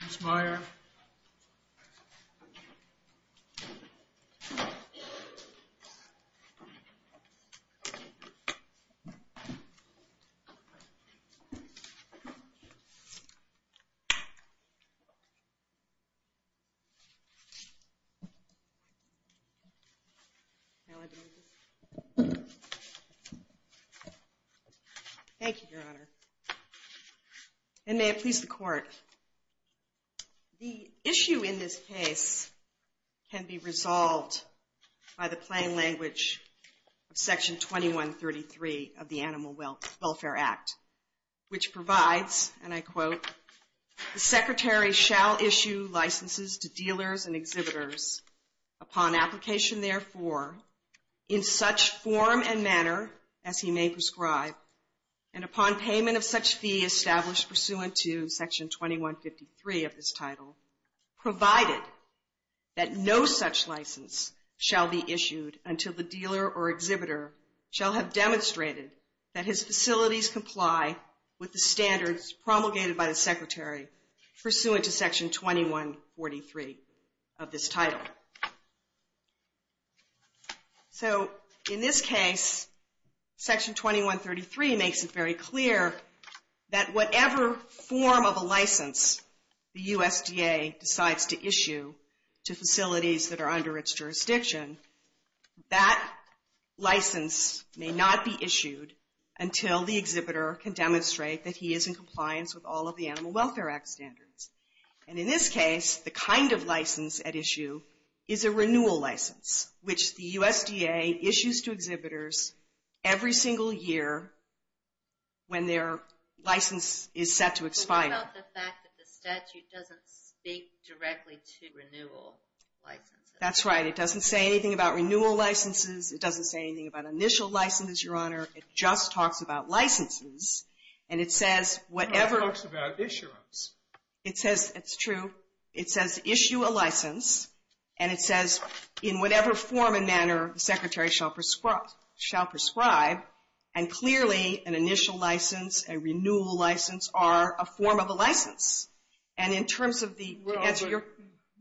That's Meyer Thank you, your Honor. In May, I please the court. The issue in this case can be resolved by the plain language of Section 2133 of the Animal Welfare Act, which provides, and I quote, The Secretary shall issue licenses to dealers and exhibitors upon application, therefore, in such form and manner as he may prescribe, and upon payment of such fee established pursuant to Section 2153 of this title, provided that no such license shall be issued until the dealer or exhibitor shall have demonstrated that his facilities comply with the standards promulgated by the Secretary pursuant to Section 2143 of this title. So, in this case, Section 2133 makes it very clear that whatever form of a license the USDA decides to issue to facilities that are under its jurisdiction, that license may not be issued until the exhibitor can demonstrate that he is in compliance with all of the Animal Welfare Act standards. And in this case, the kind of license at issue is a renewal license, which the USDA issues to exhibitors every single year when their license is set to expire. What about the fact that the statute doesn't speak directly to renewal licenses? That's right. It doesn't say anything about renewal licenses. It doesn't say anything about initial licenses, Your Honor. It just talks about licenses, and it says whatever It only talks about issuance. It says, it's true, it says issue a license, and it says in whatever form and manner the Secretary shall prescribe, and clearly an initial license, a renewal license, are a form of a license. And in terms of the, to answer your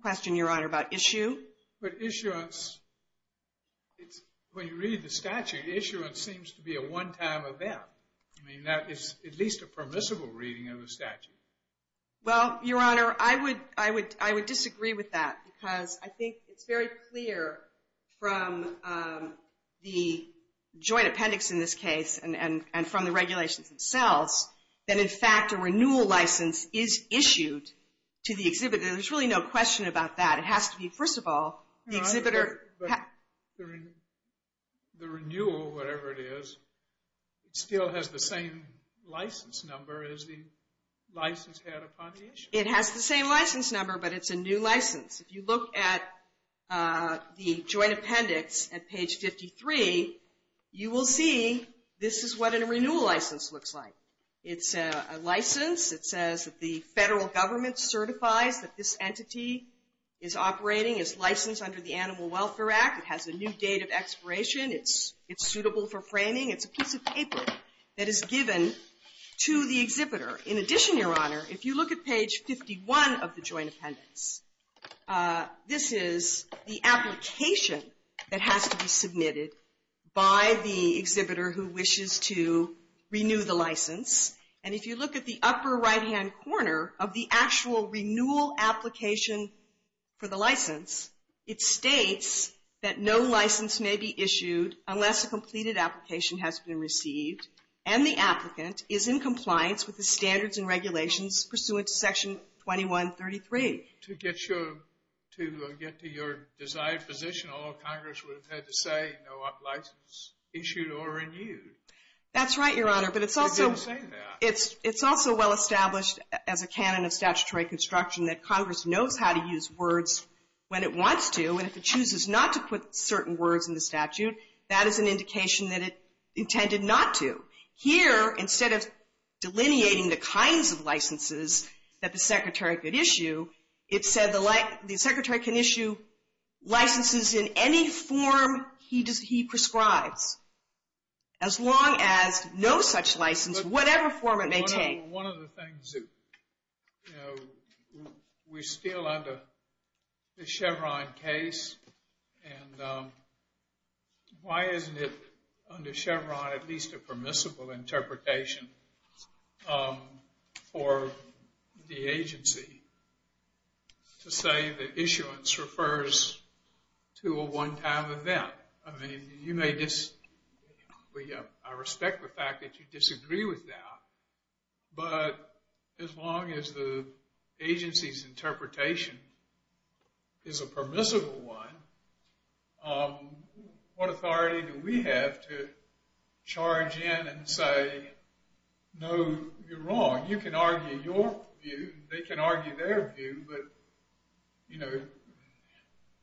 question, Your Honor, about issue. But issuance, when you read the statute, issuance seems to be a one-time event. I mean, that is at least a permissible reading of the statute. Well, Your Honor, I would disagree with that because I think it's very clear from the joint appendix in this case and from the regulations themselves that, in fact, a renewal license is issued to the exhibitor. There's really no question about that. It has to be, first of all, the exhibitor But the renewal, whatever it is, still has the same license number as the license had upon the issue. It has the same license number, but it's a new license. If you look at the joint appendix at page 53, you will see this is what a renewal license looks like. It's a license. It says that the Federal Government certifies that this entity is operating, is licensed under the Animal Welfare Act. It has a new date of expiration. It's suitable for framing. It's a piece of paper that is given to the exhibitor. In addition, Your Honor, if you look at page 51 of the joint appendix, this is the application that has to be submitted by the exhibitor who wishes to renew the license. And if you look at the upper right-hand corner of the actual renewal application for the license, it states that no license may be issued unless a completed application has been received and the applicant is in compliance with the standards and regulations pursuant to Section 2133. To get to your desired position, all Congress would have had to say, no license issued or renewed. That's right, Your Honor, but it's also well established as a canon of statutory construction that Congress knows how to use words when it wants to, and if it chooses not to put certain words in the statute, that is an indication that it intended not to. Here, instead of delineating the kinds of licenses that the Secretary could issue, it said the Secretary can issue licenses in any form he prescribes as long as no such license, whatever form it may take. Well, one of the things that, you know, we're still under the Chevron case, and why isn't it under Chevron at least a permissible interpretation for the agency to say that issuance refers to a one-time event? I mean, you may disagree, I respect the fact that you disagree with that, but as long as the agency's interpretation is a permissible one, what authority do we have to charge in and say, no, you're wrong, you can argue your view, they can argue their view, but, you know,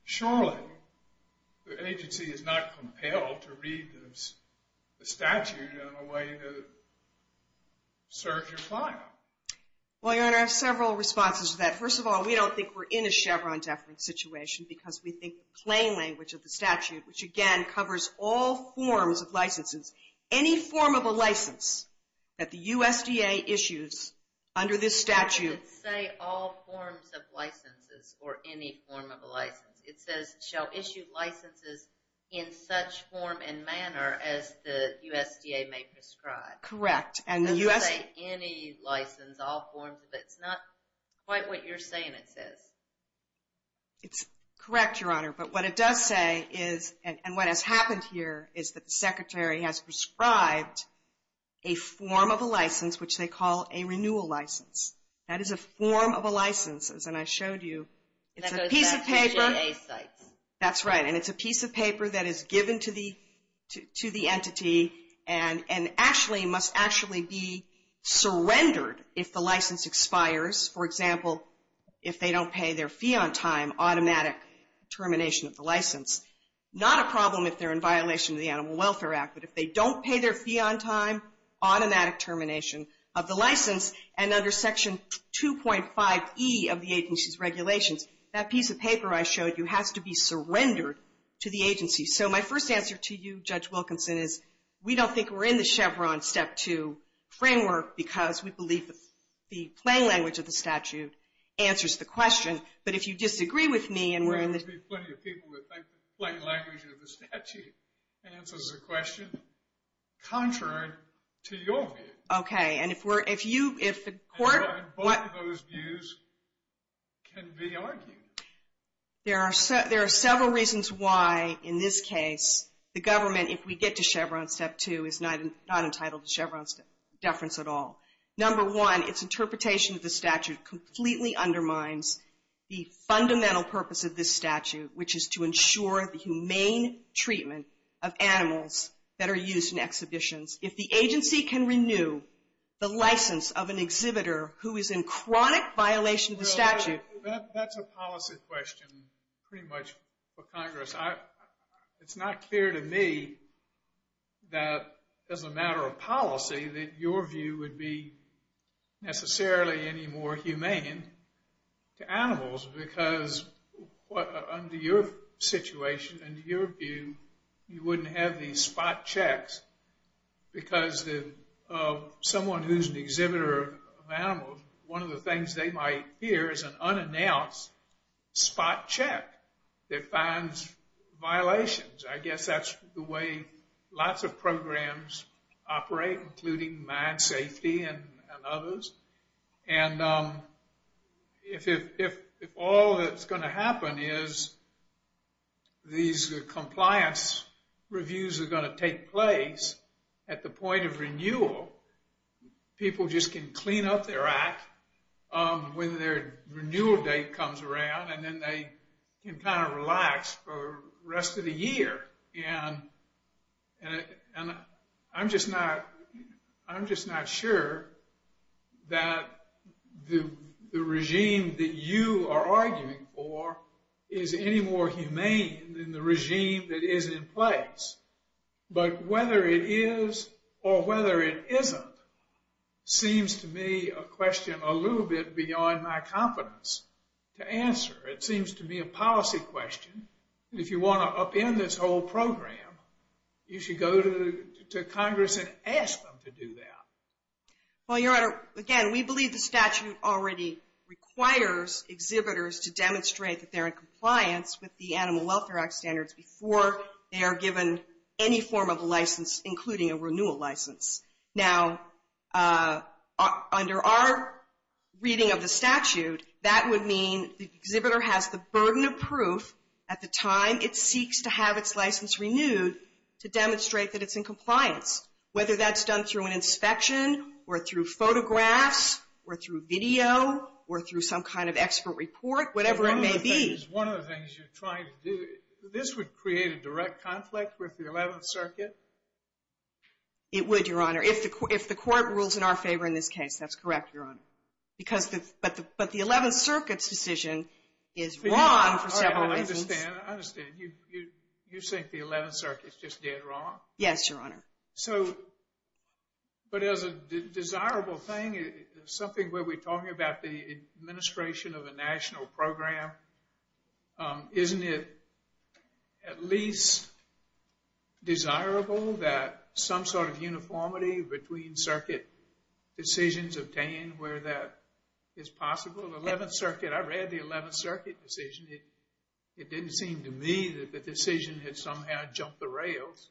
surely the agency is not compelled to read the statute in a way that serves your client. Well, Your Honor, I have several responses to that. First of all, we don't think we're in a Chevron-deafening situation because we think the plain language of the statute, which again covers all forms of licenses, any form of a license that the USDA issues under this statute. It doesn't say all forms of licenses or any form of a license. It says, shall issue licenses in such form and manner as the USDA may prescribe. Correct. It doesn't say any license, all forms of it. It's not quite what you're saying it says. It's correct, Your Honor, but what it does say is, and what has happened here, is that the Secretary has prescribed a form of a license, which they call a renewal license. That is a form of a license, as I showed you. It's a piece of paper. That's right, and it's a piece of paper that is given to the entity and must actually be surrendered if the license expires. For example, if they don't pay their fee on time, automatic termination of the license. Not a problem if they're in violation of the Animal Welfare Act, but if they don't pay their fee on time, automatic termination of the license. And under Section 2.5e of the agency's regulations, that piece of paper I showed you has to be surrendered to the agency. So my first answer to you, Judge Wilkinson, is we don't think we're in the Chevron Step 2 framework because we believe the plain language of the statute answers the question. But if you disagree with me and we're in the... There would be plenty of people who would think the plain language of the statute answers the question, contrary to your view. Okay, and if the court... And both of those views can be argued. There are several reasons why, in this case, the government, if we get to Chevron Step 2, is not entitled to Chevron deference at all. Number one, its interpretation of the statute completely undermines the fundamental purpose of this statute, which is to ensure the humane treatment of animals that are used in exhibitions. If the agency can renew the license of an exhibitor who is in chronic violation of the statute... That's a policy question, pretty much, for Congress. ...that your view would be necessarily any more humane to animals because under your situation, under your view, you wouldn't have these spot checks because someone who's an exhibitor of animals, one of the things they might hear is an unannounced spot check that finds violations. I guess that's the way lots of programs operate, including Minesafety and others. And if all that's going to happen is these compliance reviews are going to take place at the point of renewal, people just can clean up their act when their renewal date comes around and then they can kind of relax for the rest of the year. And I'm just not sure that the regime that you are arguing for is any more humane than the regime that is in place. But whether it is or whether it isn't seems to me a question a little bit beyond my confidence to answer. It seems to be a policy question. And if you want to upend this whole program, you should go to Congress and ask them to do that. Well, Your Honor, again, we believe the statute already requires exhibitors to demonstrate that they're in compliance with the Animal Welfare Act standards before they are given any form of a license, including a renewal license. Now, under our reading of the statute, that would mean the exhibitor has the burden of proof at the time it seeks to have its license renewed to demonstrate that it's in compliance, whether that's done through an inspection or through photographs or through video or through some kind of expert report, whatever it may be. One of the things you're trying to do, this would create a direct conflict with the Eleventh Circuit? It would, Your Honor, if the Court rules in our favor in this case, that's correct, Your Honor. But the Eleventh Circuit's decision is wrong for several reasons. I understand. You think the Eleventh Circuit's just dead wrong? Yes, Your Honor. So, but as a desirable thing, something where we're talking about the administration of a national program, isn't it at least desirable that some sort of uniformity between circuit decisions obtained where that is possible? The Eleventh Circuit, I read the Eleventh Circuit decision. It didn't seem to me that the decision had somehow jumped the rails.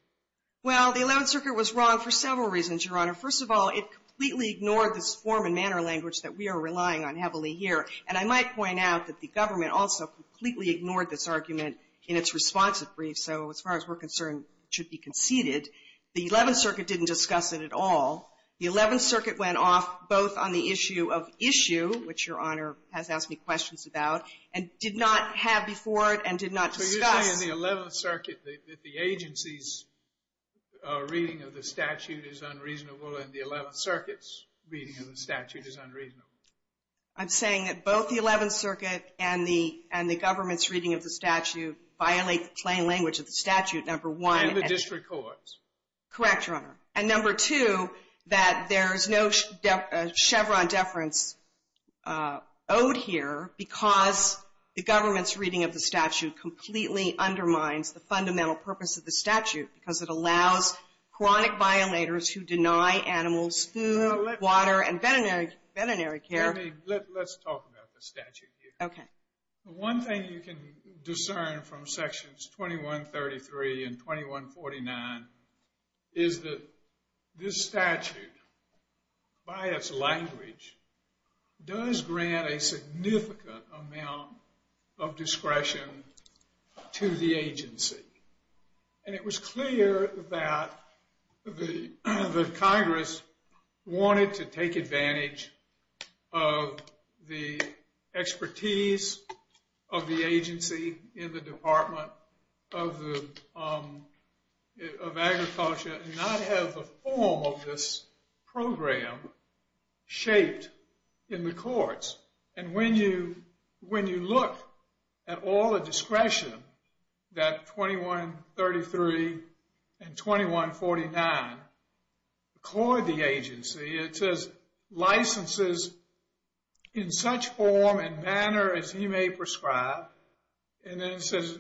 Well, the Eleventh Circuit was wrong for several reasons, Your Honor. First of all, it completely ignored this form and manner language that we are relying on heavily here. And I might point out that the government also completely ignored this argument in its responsive brief. So, as far as we're concerned, it should be conceded. The Eleventh Circuit didn't discuss it at all. The Eleventh Circuit went off both on the issue of issue, which Your Honor has asked me questions about, and did not have before it and did not discuss. So you're saying in the Eleventh Circuit that the agency's reading of the statute is unreasonable and the Eleventh Circuit's reading of the statute is unreasonable? I'm saying that both the Eleventh Circuit and the government's reading of the statute violate the plain language of the statute, number one. And the district courts. Correct, Your Honor. And number two, that there's no Chevron deference owed here because the government's reading of the statute completely undermines the fundamental purpose of the statute because it allows chronic violators who deny animals food, water, and veterinary care... Amy, let's talk about the statute here. Okay. One thing you can discern from Sections 2133 and 2149 is that this statute, by its language, does grant a significant amount of discretion to the agency. And it was clear that the Congress wanted to take advantage of the expertise of the agency in the Department of Agriculture and not have the form of this program shaped in the courts. And when you look at all the discretion that 2133 and 2149 accord the agency, it says licenses in such form and manner as you may prescribe, and then it says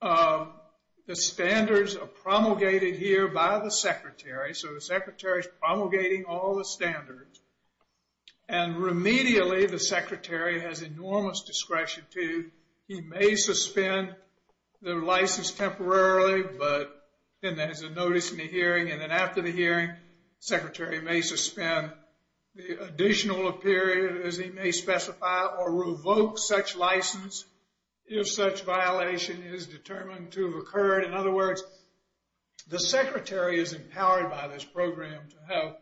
the standards are promulgated here by the Secretary. So the Secretary's promulgating all the standards. And remedially, the Secretary has enormous discretion to, he may suspend the license temporarily, but then there's a notice in the hearing, and then after the hearing, the Secretary may suspend the additional period, as he may specify, or revoke such license if such violation is determined to have occurred. In other words, the Secretary is empowered by this program to have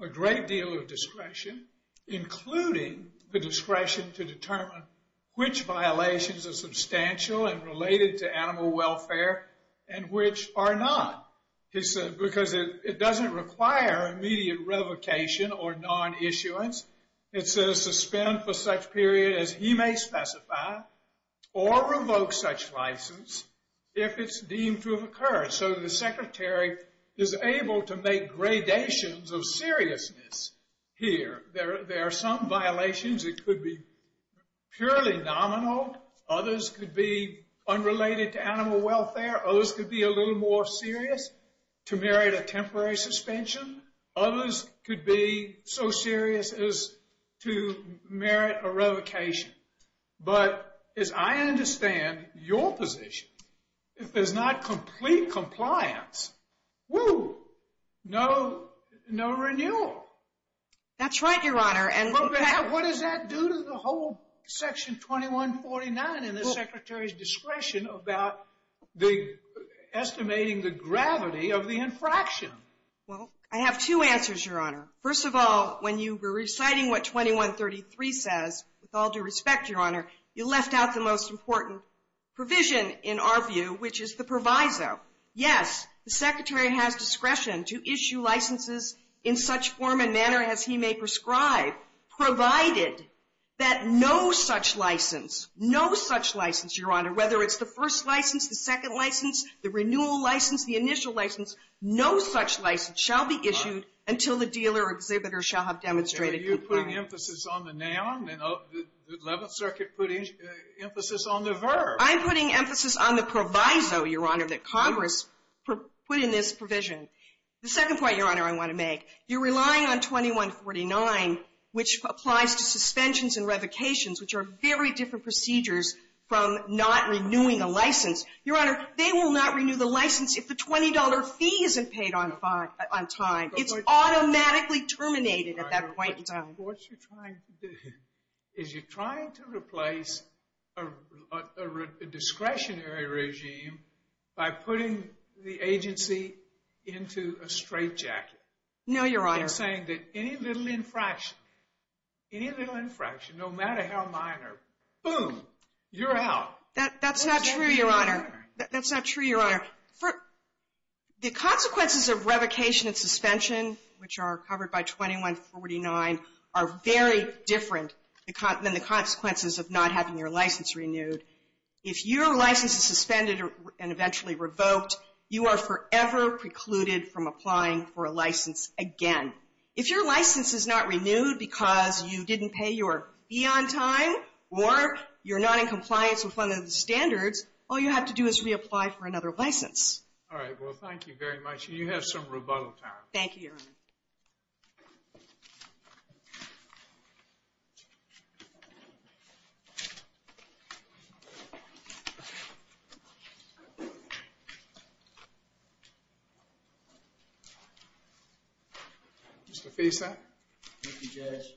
a great deal of discretion, including the discretion to determine which violations are substantial and related to animal welfare and which are not. Because it doesn't require immediate revocation or non-issuance. It says suspend for such period as he may specify or revoke such license if it's deemed to have occurred. So the Secretary is able to make gradations of seriousness here. There are some violations that could be purely nominal. Others could be unrelated to animal welfare. Others could be a little more serious to merit a temporary suspension. Others could be so serious as to merit a revocation. But as I understand your position, if there's not complete compliance, whoo, no renewal. That's right, Your Honor. And what does that do to the whole Section 2149 and the Secretary's discretion about estimating the gravity of the infraction? Well, I have two answers, Your Honor. First of all, when you were reciting what 2133 says, with all due respect, Your Honor, you left out the most important provision in our view, which is the proviso. Yes, the Secretary has discretion to issue licenses in such form and manner as he may prescribe, provided that no such license, no such license, Your Honor, whether it's the first license, the second license, the renewal license, the initial license, no such license shall be issued until the dealer or exhibitor shall have demonstrated compliance. Are you putting emphasis on the noun? The Eleventh Circuit put emphasis on the verb. I'm putting emphasis on the proviso, Your Honor, that Congress put in this provision. The second point, Your Honor, I want to make, you're relying on 2149, which applies to suspensions and revocations, which are very different procedures from not renewing a license. Your Honor, they will not renew the license if the $20 fee isn't paid on time. It's automatically terminated at that point in time. But what you're trying to do is you're trying to replace a discretionary regime by putting the agency into a straitjacket. No, Your Honor. You're saying that any little infraction, any little infraction, no matter how minor, boom, you're out. That's not true, Your Honor. That's not true, Your Honor. The consequences of revocation and suspension, which are covered by 2149, are very different than the consequences of not having your license renewed. If your license is suspended and eventually revoked, you are forever precluded from applying for a license again. If your license is not renewed because you didn't pay your fee on time or you're not in compliance with one of the standards, all you have to do is reapply for another license. All right. Well, thank you very much. And you have some rebuttal time. Thank you, Your Honor. Thank you, Judge.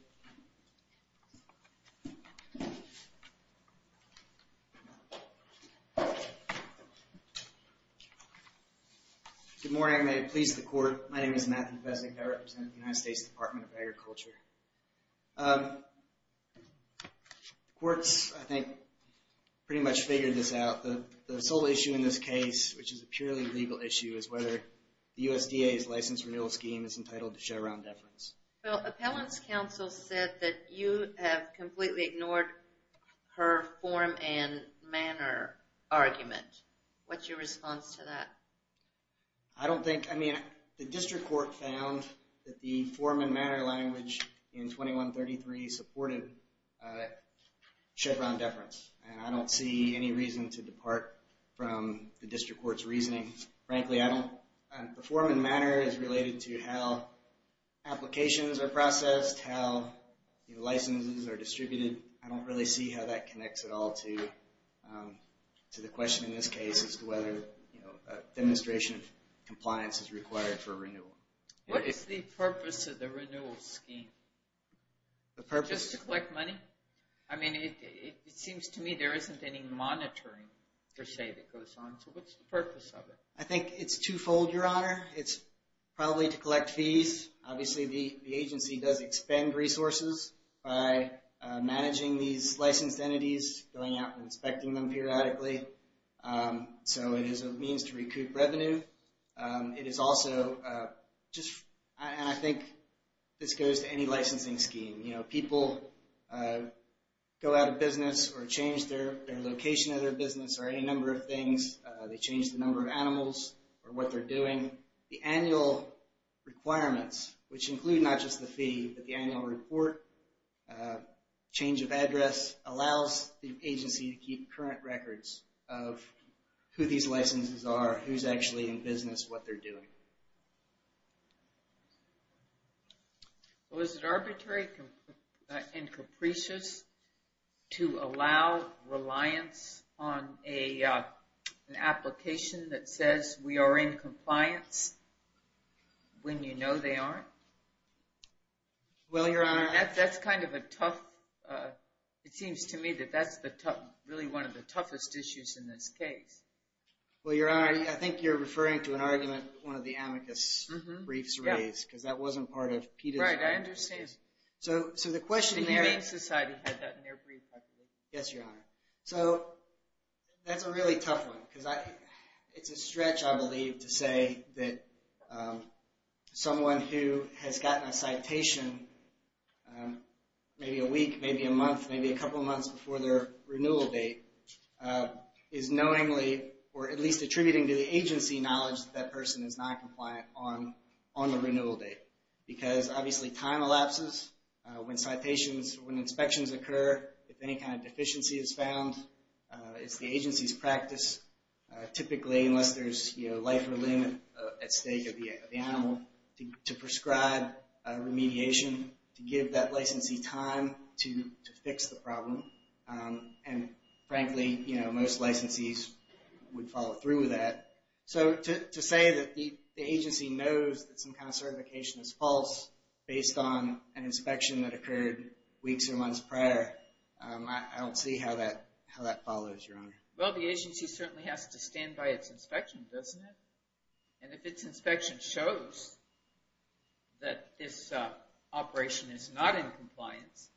Good morning. May it please the Court. My name is Matthew Fesnik. I represent the United States Department of Agriculture. The Court's, I think, pretty much figured this out. The sole issue in this case, which is a purely legal issue, is whether the USDA's license renewal scheme is entitled to showround deference. Well, Appellant's counsel said that you have completely ignored her form and manner argument. What's your response to that? I don't think, I mean, the District Court found that the form and manner language in 2133 supported showround deference. And I don't see any reason to depart from the District Court's reasoning. Frankly, I don't. The form and manner is related to how applications are processed, how licenses are distributed. I don't really see how that connects at all to the question in this case as to whether a demonstration of compliance is required for renewal. What is the purpose of the renewal scheme? The purpose? Just to collect money? I mean, it seems to me there isn't any monitoring, per se, that goes on. So what's the purpose of it? I think it's twofold, Your Honor. It's probably to collect fees. Obviously, the agency does expend resources by managing these licensed entities, going out and inspecting them periodically. So it is a means to recoup revenue. It is also just, and I think this goes to any licensing scheme. You know, people go out of business or change their location of their business or any number of things. They change the number of animals or what they're doing. The annual requirements, which include not just the fee, but the annual report, change of address, allows the agency to keep current records of who these licenses are, who's actually in business, what they're doing. Well, is it arbitrary and capricious to allow reliance on an application that says we are in compliance when you know they aren't? Well, Your Honor... That's kind of a tough... It seems to me that that's really one of the toughest issues in this case. Well, Your Honor, I think you're referring to an argument one of the amicus briefs raised, because that wasn't part of PETA's... Right, I understand. So the question... The Humane Society had that in their brief, I believe. Yes, Your Honor. So that's a really tough one, because it's a stretch, I believe, to say that someone who has gotten a citation maybe a week, maybe a month, maybe a couple of months before their renewal date is knowingly, or at least attributing to the agency knowledge that that person is not compliant on the renewal date. Because, obviously, time elapses. When citations, when inspections occur, if any kind of deficiency is found, it's the agency's practice, typically, unless there's life or limb at stake of the animal, to prescribe remediation, to give that licensee time to fix the problem. And, frankly, most licensees would follow through with that. So to say that the agency knows that some kind of certification is false based on an inspection that occurred weeks or months prior, I don't see how that follows, Your Honor. Well, the agency certainly has to stand by its inspection, doesn't it? And if its inspection shows that this operation is not in compliance,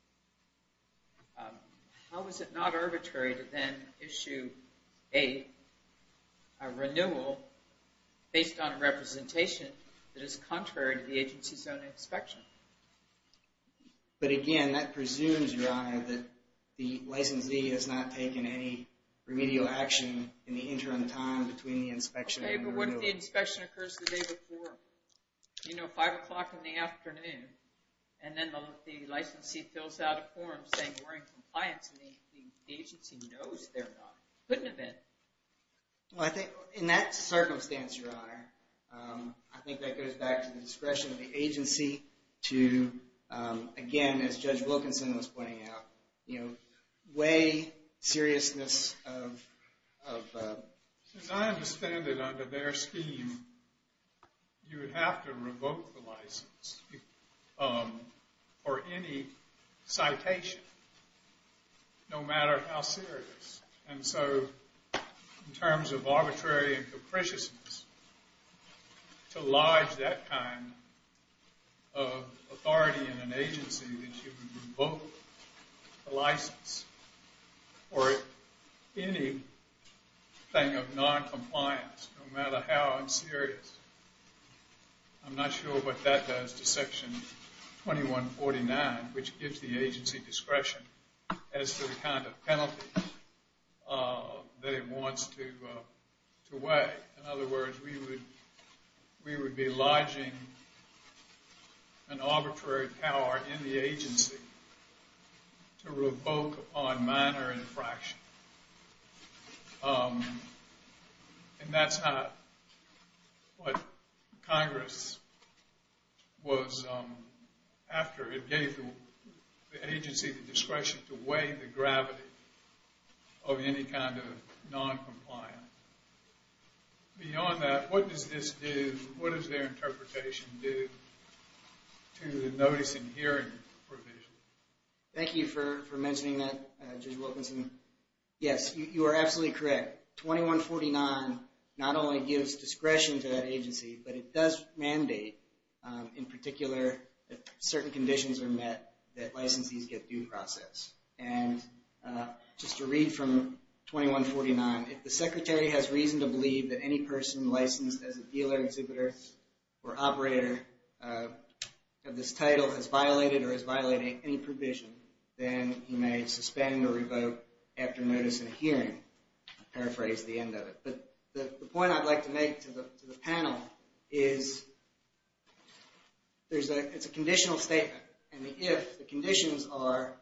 how is it not arbitrary to then issue a renewal based on a representation that is contrary to the agency's own inspection? But, again, that presumes, Your Honor, that the licensee has not taken any remedial action in the interim time between the inspection and renewal. Okay, but what if the inspection occurs the day before? You know, 5 o'clock in the afternoon. And then the licensee fills out a form saying we're in compliance and the agency knows they're not. Couldn't have been. Well, I think, in that circumstance, Your Honor, I think that goes back to the discretion of the agency to, again, as Judge Wilkinson was pointing out, weigh seriousness of... As I understand it, under their scheme, you would have to revoke the license for any citation, no matter how serious. And so, in terms of arbitrary and capriciousness, to lodge that kind of authority in an agency that you would revoke the license for anything of noncompliance, no matter how serious. I'm not sure what that does to Section 2149, which gives the agency discretion as to the kind of penalty that it wants to weigh. In other words, we would be lodging an arbitrary power in the agency to revoke upon minor infraction. And that's how... What Congress was... After it gave the agency the discretion to weigh the gravity of any kind of noncompliance. Beyond that, what does this do? What does their interpretation do to the notice and hearing provision? Thank you for mentioning that, Judge Wilkinson. Yes, you are absolutely correct. 2149 not only gives discretion to that agency, but it does mandate, in particular, that certain conditions are met that licensees get due process. And just to read from 2149, if the secretary has reason to believe that any person licensed as a dealer, exhibitor, or operator of this title has violated or is violating any provision, then he may suspend or revoke after notice and hearing. I'll paraphrase the end of it. But the point I'd like to make to the panel is it's a conditional statement. And the if, the conditions are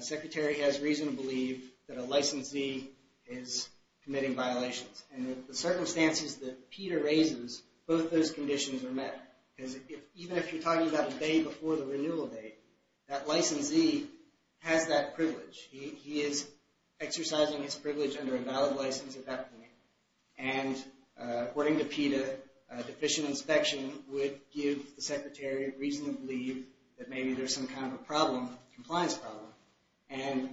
secretary has reason to believe that a licensee is committing violations. And the circumstances that PETA raises, both those conditions are met. Because even if you're talking about the day before the renewal date, that licensee has that privilege. He is exercising his privilege under a valid license at that point. And according to PETA, deficient inspection would give the secretary reason to believe that maybe there's some kind of problem, compliance problem. And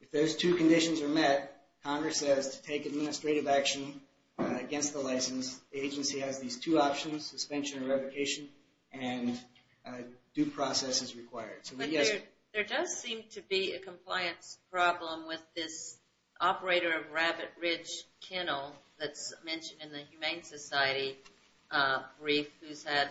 if those two conditions are met, Congress says to take administrative action against the license, the agency has these two options, suspension or revocation, and due process is required. So we guess... There does seem to be a compliance problem with this operator of Rabbit Ridge Kennel that's mentioned in the Humane Society brief who's had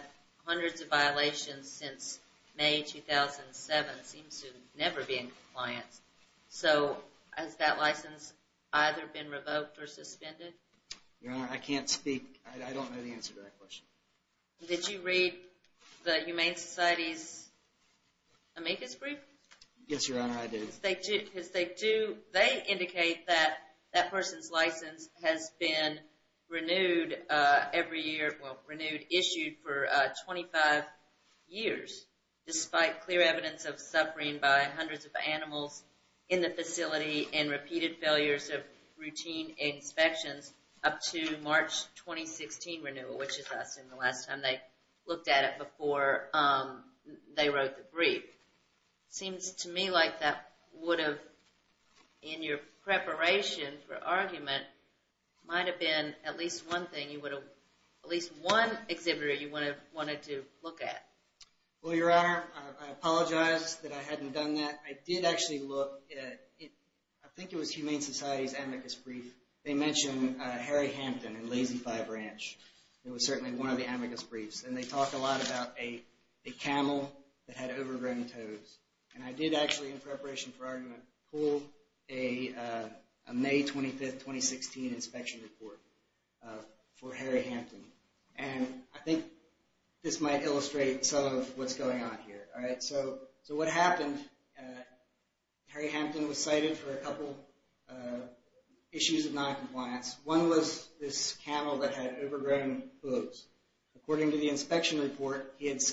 hundreds of violations since May 2007, seems to never be in compliance. So has that license either been revoked or suspended? Your Honor, I can't speak. I don't know the answer to that question. Did you read the Humane Society's amicus brief? Yes, Your Honor, I did. Because they do, they indicate that that person's license has been renewed every year, issued for 25 years, despite clear evidence of suffering by hundreds of animals in the facility and repeated failures of routine inspections up to March 2016 renewal, which is the last time they looked at it before they wrote the brief. Seems to me like that would have, in your preparation for argument, might have been at least one thing, at least one exhibitor you would have wanted to look at. Well, Your Honor, I apologize that I hadn't done that. I did actually look at, I think it was Humane Society's amicus brief. They mention Harry Hampton and Lazy Five Ranch. It was certainly one of the amicus briefs. And they talk a lot about a camel that had overgrown toes. And I did actually, in preparation for argument, pull a May 25, 2016 inspection report for Harry Hampton. And I think this might illustrate some of what's going on here. So what happened, Harry Hampton was cited for a couple issues of noncompliance. One was this camel that had overgrown hooves. According to the inspection report, had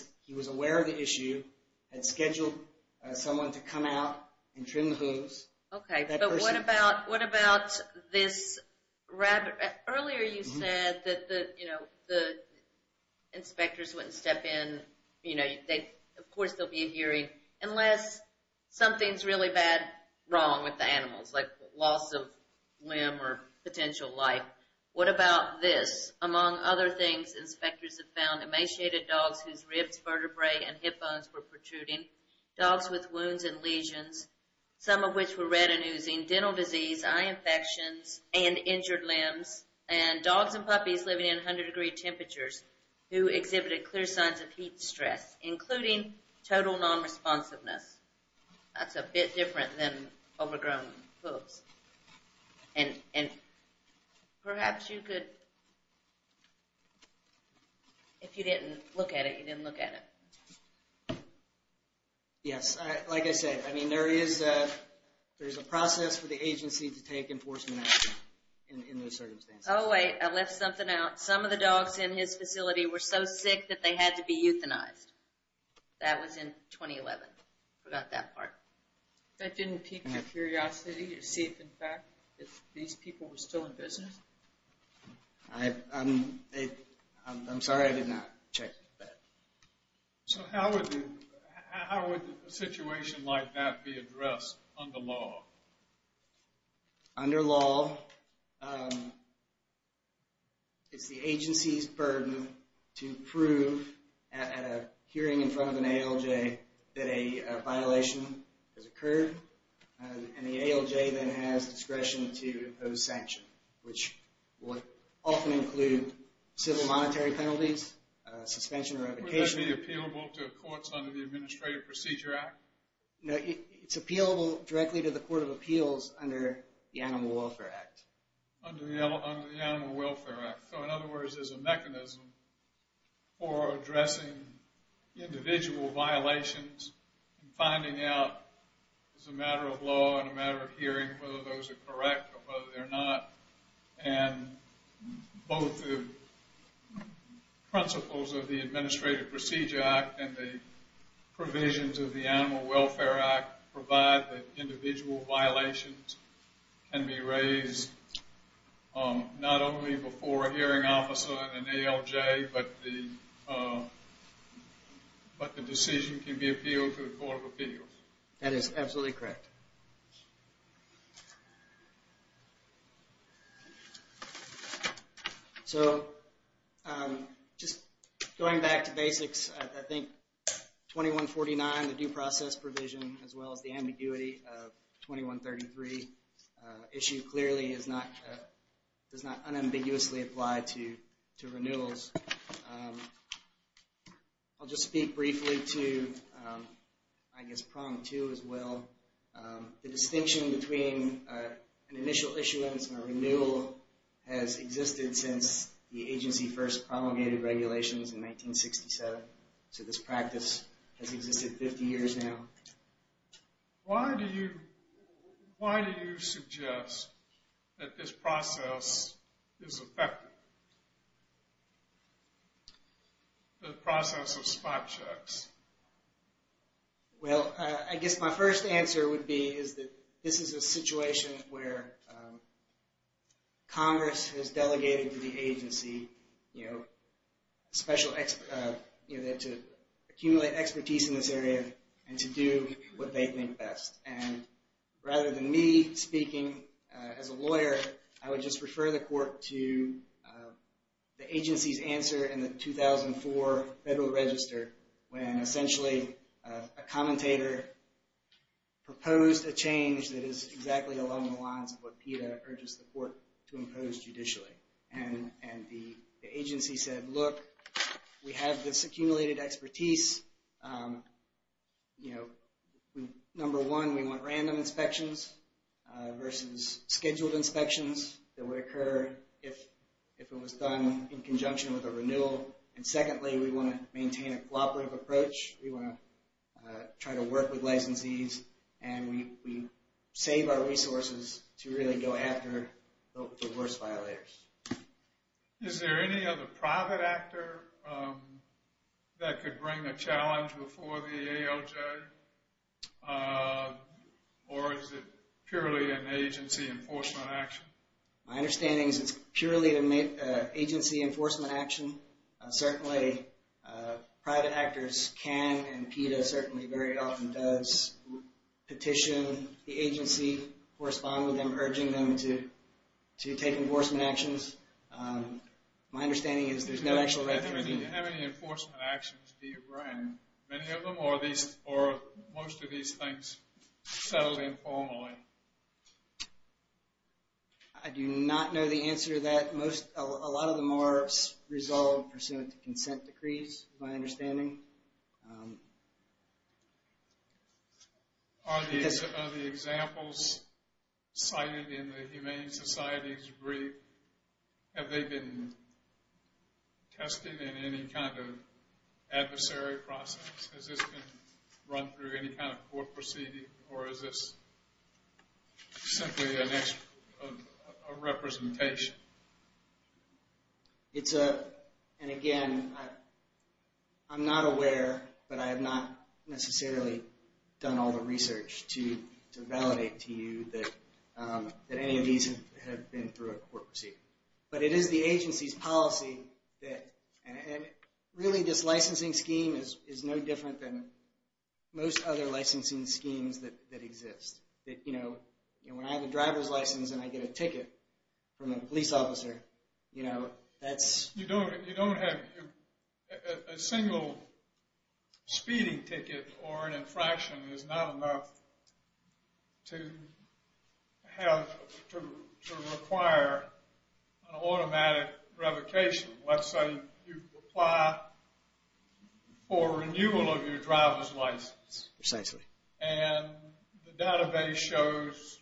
scheduled someone to come out and trim the hooves. Okay, but what about this rabbit? Earlier you said that the inspectors wouldn't step in, of course there'll be a hearing, unless something's really bad, wrong with the animals, like loss of limb or potential life. What about this? Among other things, inspectors have found emaciated dogs whose ribs, vertebrae, and hip bones were protruding, dogs with wounds and lesions, some of which were retinosing, dental disease, eye infections, and injured limbs, and dogs and puppies living in 100 degree temperatures, who exhibited clear signs of heat stress, including total non-responsiveness. That's a bit different than overgrown hooves. And perhaps you could, if you didn't look at it, you didn't look at it. Yes, like I said, there is a process for the agency to take enforcement action in those circumstances. Oh wait, I left something out. Some of the dogs in his facility were so sick that they had to be euthanized. That was in 2011. Forgot that part. That didn't pique your curiosity to see if in fact these people were still in business? I'm sorry I did not check that. So how would a situation like that be addressed under law? Under law, it's the agency's burden to prove at a hearing in front of an ALJ that a violation has occurred, and the ALJ then has discretion to impose sanction, which would often include civil monetary penalties, suspension or revocation. Would that be appealable to courts under the Administrative Procedure Act? No, it's appealable directly to the Court of Appeals under the Animal Welfare Act. Under the Animal Welfare Act. So in other words, there's a mechanism for addressing individual violations and finding out as a matter of law and a matter of hearing whether those are correct or whether they're not, and both the principles of the Administrative Procedure Act and the provisions of the Animal Welfare Act provide that individual violations can be raised not only before a hearing officer and an ALJ, but the decision can be appealed to the Court of Appeals. That is absolutely correct. Thank you. So just going back to basics, I think 2149, the due process provision, as well as the ambiguity of 2133 issue clearly does not unambiguously apply to renewals. I'll just speak briefly to, I guess, prong two as well. The distinction between an initial issuance and a renewal has existed since the agency first promulgated regulations in 1967. So this practice has existed 50 years now. Why do you suggest that this process is effective? The process of spot checks. Well, I guess my first answer would be is that this is a situation where Congress has delegated to the agency to accumulate expertise in this area and to do what they think best. And rather than me speaking as a lawyer, I would just refer the Court to the agency's answer in the 2004 Federal Register when essentially a commentator proposed a change that is exactly along the lines of what PETA urges the Court to impose judicially. And the agency said, look, we have this accumulated expertise. Number one, we want random inspections versus scheduled inspections that would occur if it was done in conjunction with a renewal. And secondly, we want to maintain a cooperative approach. We want to try to work with licensees and we save our resources to really go after the worst violators. Is there any other private actor that could bring a challenge before the ALJ? Or is it purely an agency enforcement action? My understanding is it's purely an agency enforcement action. Certainly private actors can and PETA certainly very often does petition the agency, correspond with them, urging them to take enforcement actions. My understanding is there's no actual record. Do you have any enforcement actions? Do you bring many of them or are most of these things settled informally? I do not know the answer to that. A lot of them are resolved pursuant to consent decrees, is my understanding. Are the examples cited in the Humane Societies brief, have they been tested in any kind of adversary process? Has this been run through any kind of court proceeding? Or is this simply a representation? It's a, and again, I'm not aware, but I have not necessarily done all the research to validate to you that any of these have been through a court proceeding. But it is the agency's policy that, and really this licensing scheme is no different than most other licensing schemes that exist. You know, when I have a driver's license and I get a ticket from a police officer, you know, that's... You don't have, a single speeding ticket or an infraction is not enough to have, to require an automatic revocation. Let's say you apply for renewal of your driver's license. Precisely. And the database shows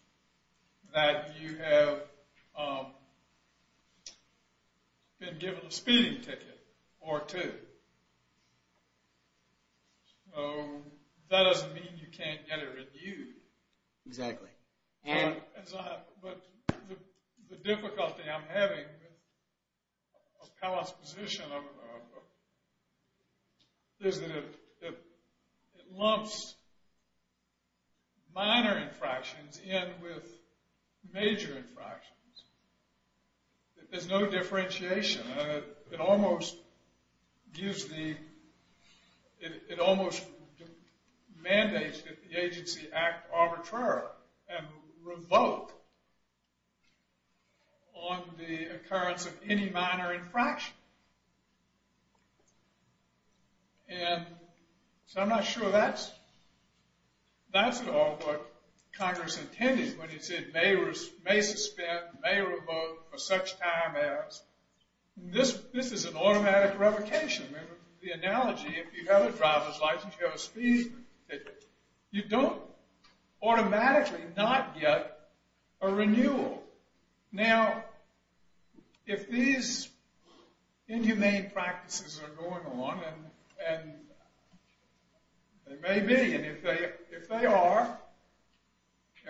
that you have been given a speeding ticket or two. So that doesn't mean you can't get it renewed. Exactly. But the difficulty I'm having with Appellate's position is that it lumps minor infractions in with major infractions. There's no differentiation. It almost gives the, it almost mandates that the agency act arbitrary and revoke on the occurrence of any minor infraction. And so I'm not sure that's, that's all what Congress intended when it said may suspend, may revoke for such time as... This is an automatic revocation. The analogy, if you have a driver's license, you have a speeding ticket, you don't automatically not get a renewal. Now, if these inhumane practices are going on, and they may be, and if they are,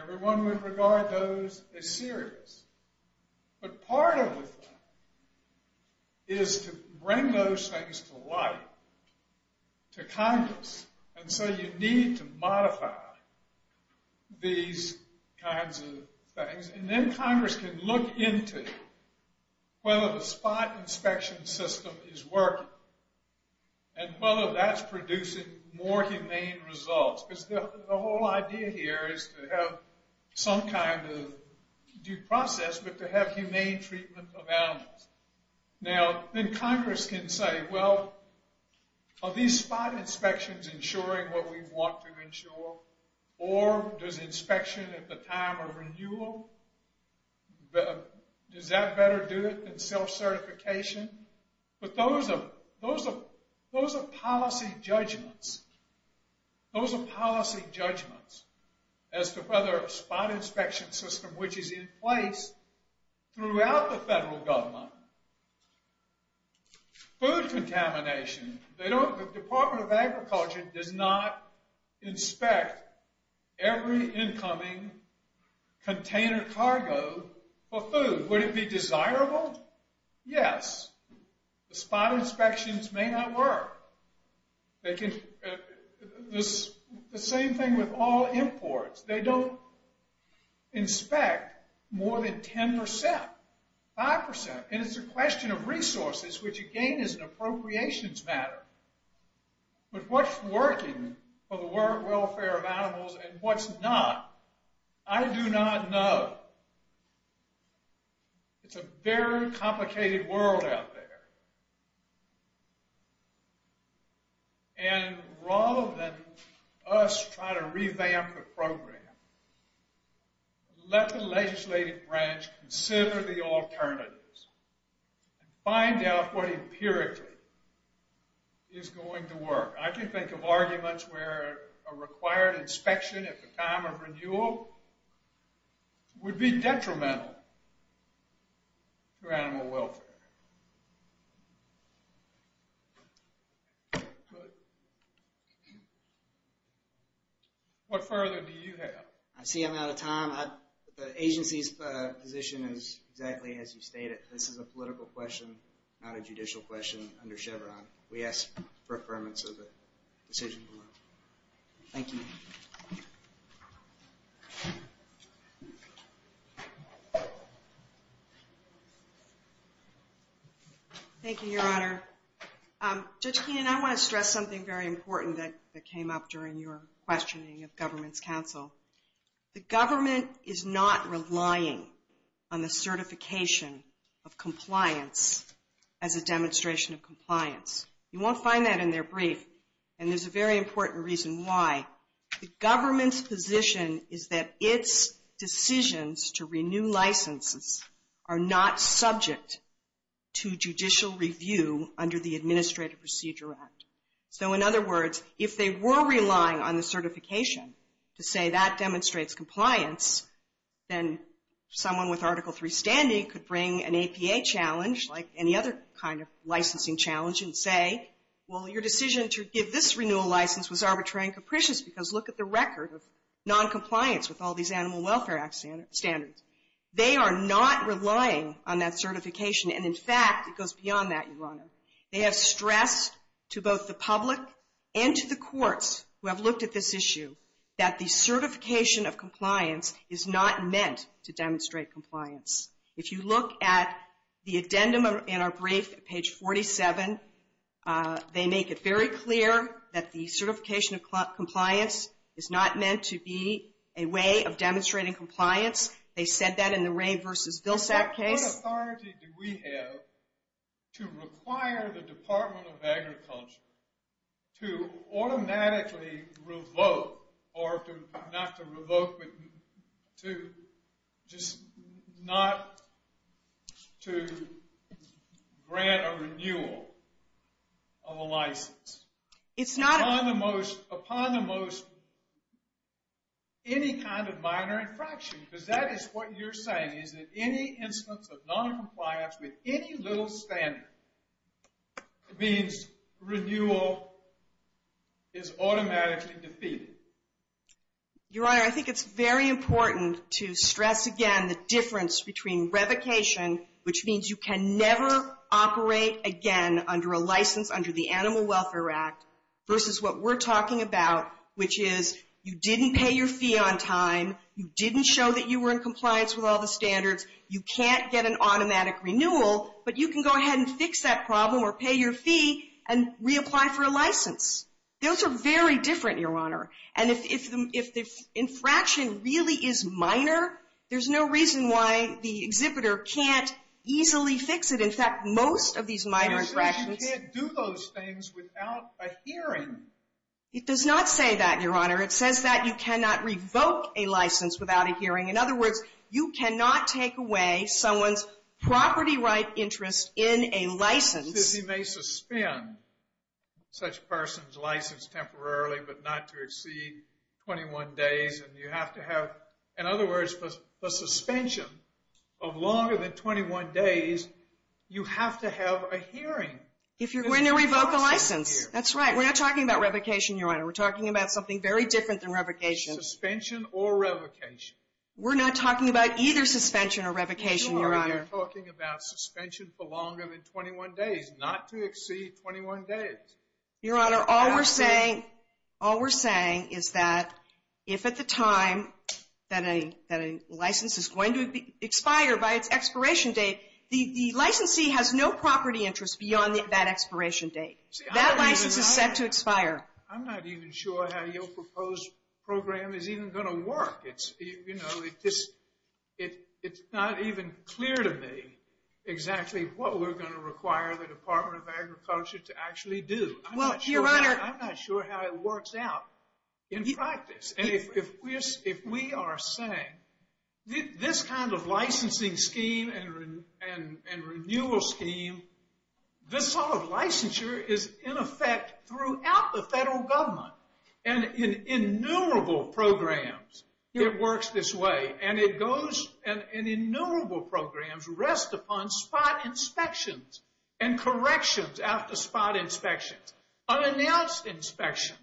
everyone would regard those as serious. But part of the thing is to bring those things to light to Congress. And so you need to modify these kinds of things. And then Congress can look into whether the spot inspection system is working. And whether that's producing more humane results. Because the whole idea here is to have some kind of due process, but to have humane treatment of animals. Now, then Congress can say, well, are these spot inspections ensuring what we want to ensure? Or does inspection at the time of renewal, does that better do it than self-certification? But those are policy judgments. Those are policy judgments as to whether a spot inspection system, which is in place throughout the federal government, food contamination, the Department of Agriculture does not inspect every incoming container cargo for food. Would it be desirable? Yes. The spot inspections may not work. The same thing with all imports. They don't inspect more than 10%, 5%. And it's a question of resources, which again is an appropriations matter. But what's working for the welfare of animals and what's not, I do not know. It's a very complicated world out there. And rather than let the legislative branch consider the alternatives. Find out what empirically is going to work. I can think of arguments where a required inspection at the time of renewal would be detrimental to animal welfare. What further do you have? I see I'm out of time. The agency's position is exactly as you stated. This is a political question, not a judicial question under Chevron. We ask for affirmance of the decision below. Thank you, Your Honor. Judge Keenan, I want to stress something very important that came up during your questioning of government's counsel. The government is not relying on the certification of compliance as a demonstration of compliance. You won't find that in their brief. And there's a very important reason why. The government's position is that its decisions to renew licenses are not subject to judicial review under the Administrative Procedure Act. So in other words, if they were relying on the certification to say that demonstrates compliance, then someone with Article 3 standing could bring an APA challenge like any other kind of licensing challenge and say, well, your decision to give this renewal license was arbitrary and capricious because look at the record of noncompliance with all these Animal Welfare Act standards. They are not relying on that certification. And in fact, it goes beyond that, Your Honor. They have stressed to both the public and to the courts who have looked at this issue that the certification of compliance is not meant to demonstrate compliance. If you look at the addendum in our brief at page 47, they make it very clear that the certification of compliance is not meant to be a way of demonstrating compliance. They said that in the Wray v. Vilsack case. What authority do we have to require the Department of Agriculture to automatically revoke or not to revoke, to just not to grant a renewal of a license upon the most any kind of minor infraction because that is what you're saying is that any instance of noncompliance with any little standard means renewal is automatically defeated. Your Honor, I think it's very important to stress again the difference between revocation which means you can never operate again under a license under the Animal Welfare Act versus what we're talking about which is you didn't pay your fee on time, you didn't show that you were in compliance with all the standards, you can't get an automatic renewal, but you can go ahead and fix that problem or pay your fee and reapply for a license. Those are very different, Your Honor. And if the infraction really is minor, there's no reason why the exhibitor can't easily fix it. In fact, most of these minor infractions... It says that you cannot revoke a license without a hearing. In other words, you cannot take away someone's property right interest in a license because he may suspend such person's license temporarily but not to exceed 21 days and you have to have, in other words, the suspension of longer than 21 days, you have to have a hearing. If you're going to revoke a license. That's right. We're not talking about revocation, Your Honor. We're talking about something very different than revocation. Suspension or revocation. We're not talking about either suspension or revocation, Your Honor. We're talking about suspension for longer than 21 days, not to exceed 21 days. Your Honor, all we're saying is that if at the time that a license is going to expire by its expiration date, the licensee has no property interest beyond that expiration date. That license is set to expire. I'm not even sure how your proposed program is even going to work. It's not even clear to me exactly what we're going to require the Department of Agriculture to actually do. I'm not sure how it works out in practice. If we are saying this kind of licensing scheme and renewal scheme, this sort of licensure is in effect throughout the federal government. In innumerable programs, it works this way. In innumerable programs, rest upon spot inspections and corrections after spot inspections. Unannounced inspections.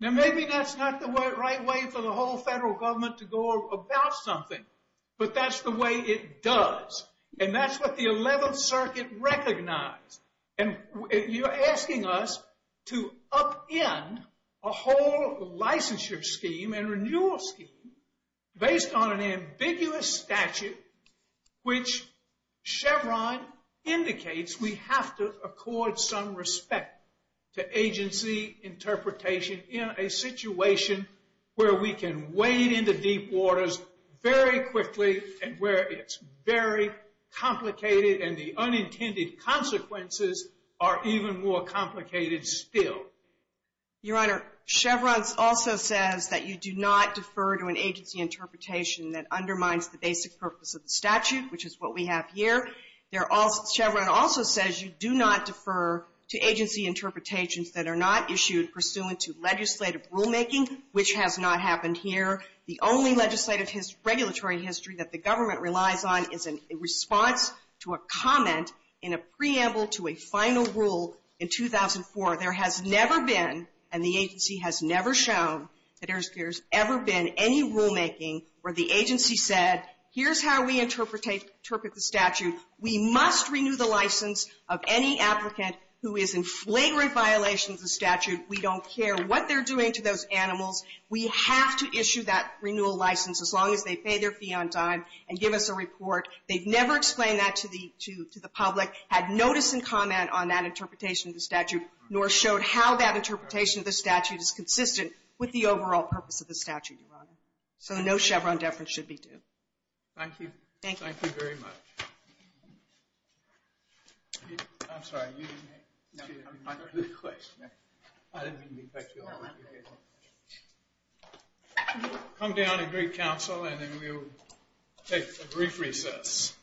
Maybe that's not the right way for the whole federal government to go about something, but that's the way it does. That's what the 11th Circuit recognized. You're asking us to upend a whole licensure scheme and renewal scheme based on an ambiguous statute which Chevron indicates we have to accord some respect to agency interpretation in a situation where we can wade into deep waters very quickly and where it's very complicated and the unintended consequences are even more complicated still. Your Honor, Chevron also says that you do not defer to an agency interpretation that undermines the basic purpose of the statute, which is what we have here. Chevron also says you do not defer to agency interpretations that are not issued pursuant to legislative rulemaking, which has not happened here. The only legislative regulatory history that the government relies on is a response to a comment in a preamble to a final rule in 2004. There has never been, and the agency has never shown, that there's ever been any rulemaking where the agency said, here's how we interpret the statute. We must renew the license of any statute. We don't care what they're doing to those animals. We have to issue that renewal license as long as they pay their fee on time and give us a report. They've never explained that to the public, had notice and comment on that interpretation of the statute, nor showed how that interpretation of the statute is consistent with the overall purpose of the statute, Your Honor. So no Chevron deference should be due. Thank you. Thank you very much. I'm sorry. No, you didn't. I didn't mean to be petty. Come down and greet counsel and then we'll take a brief recess.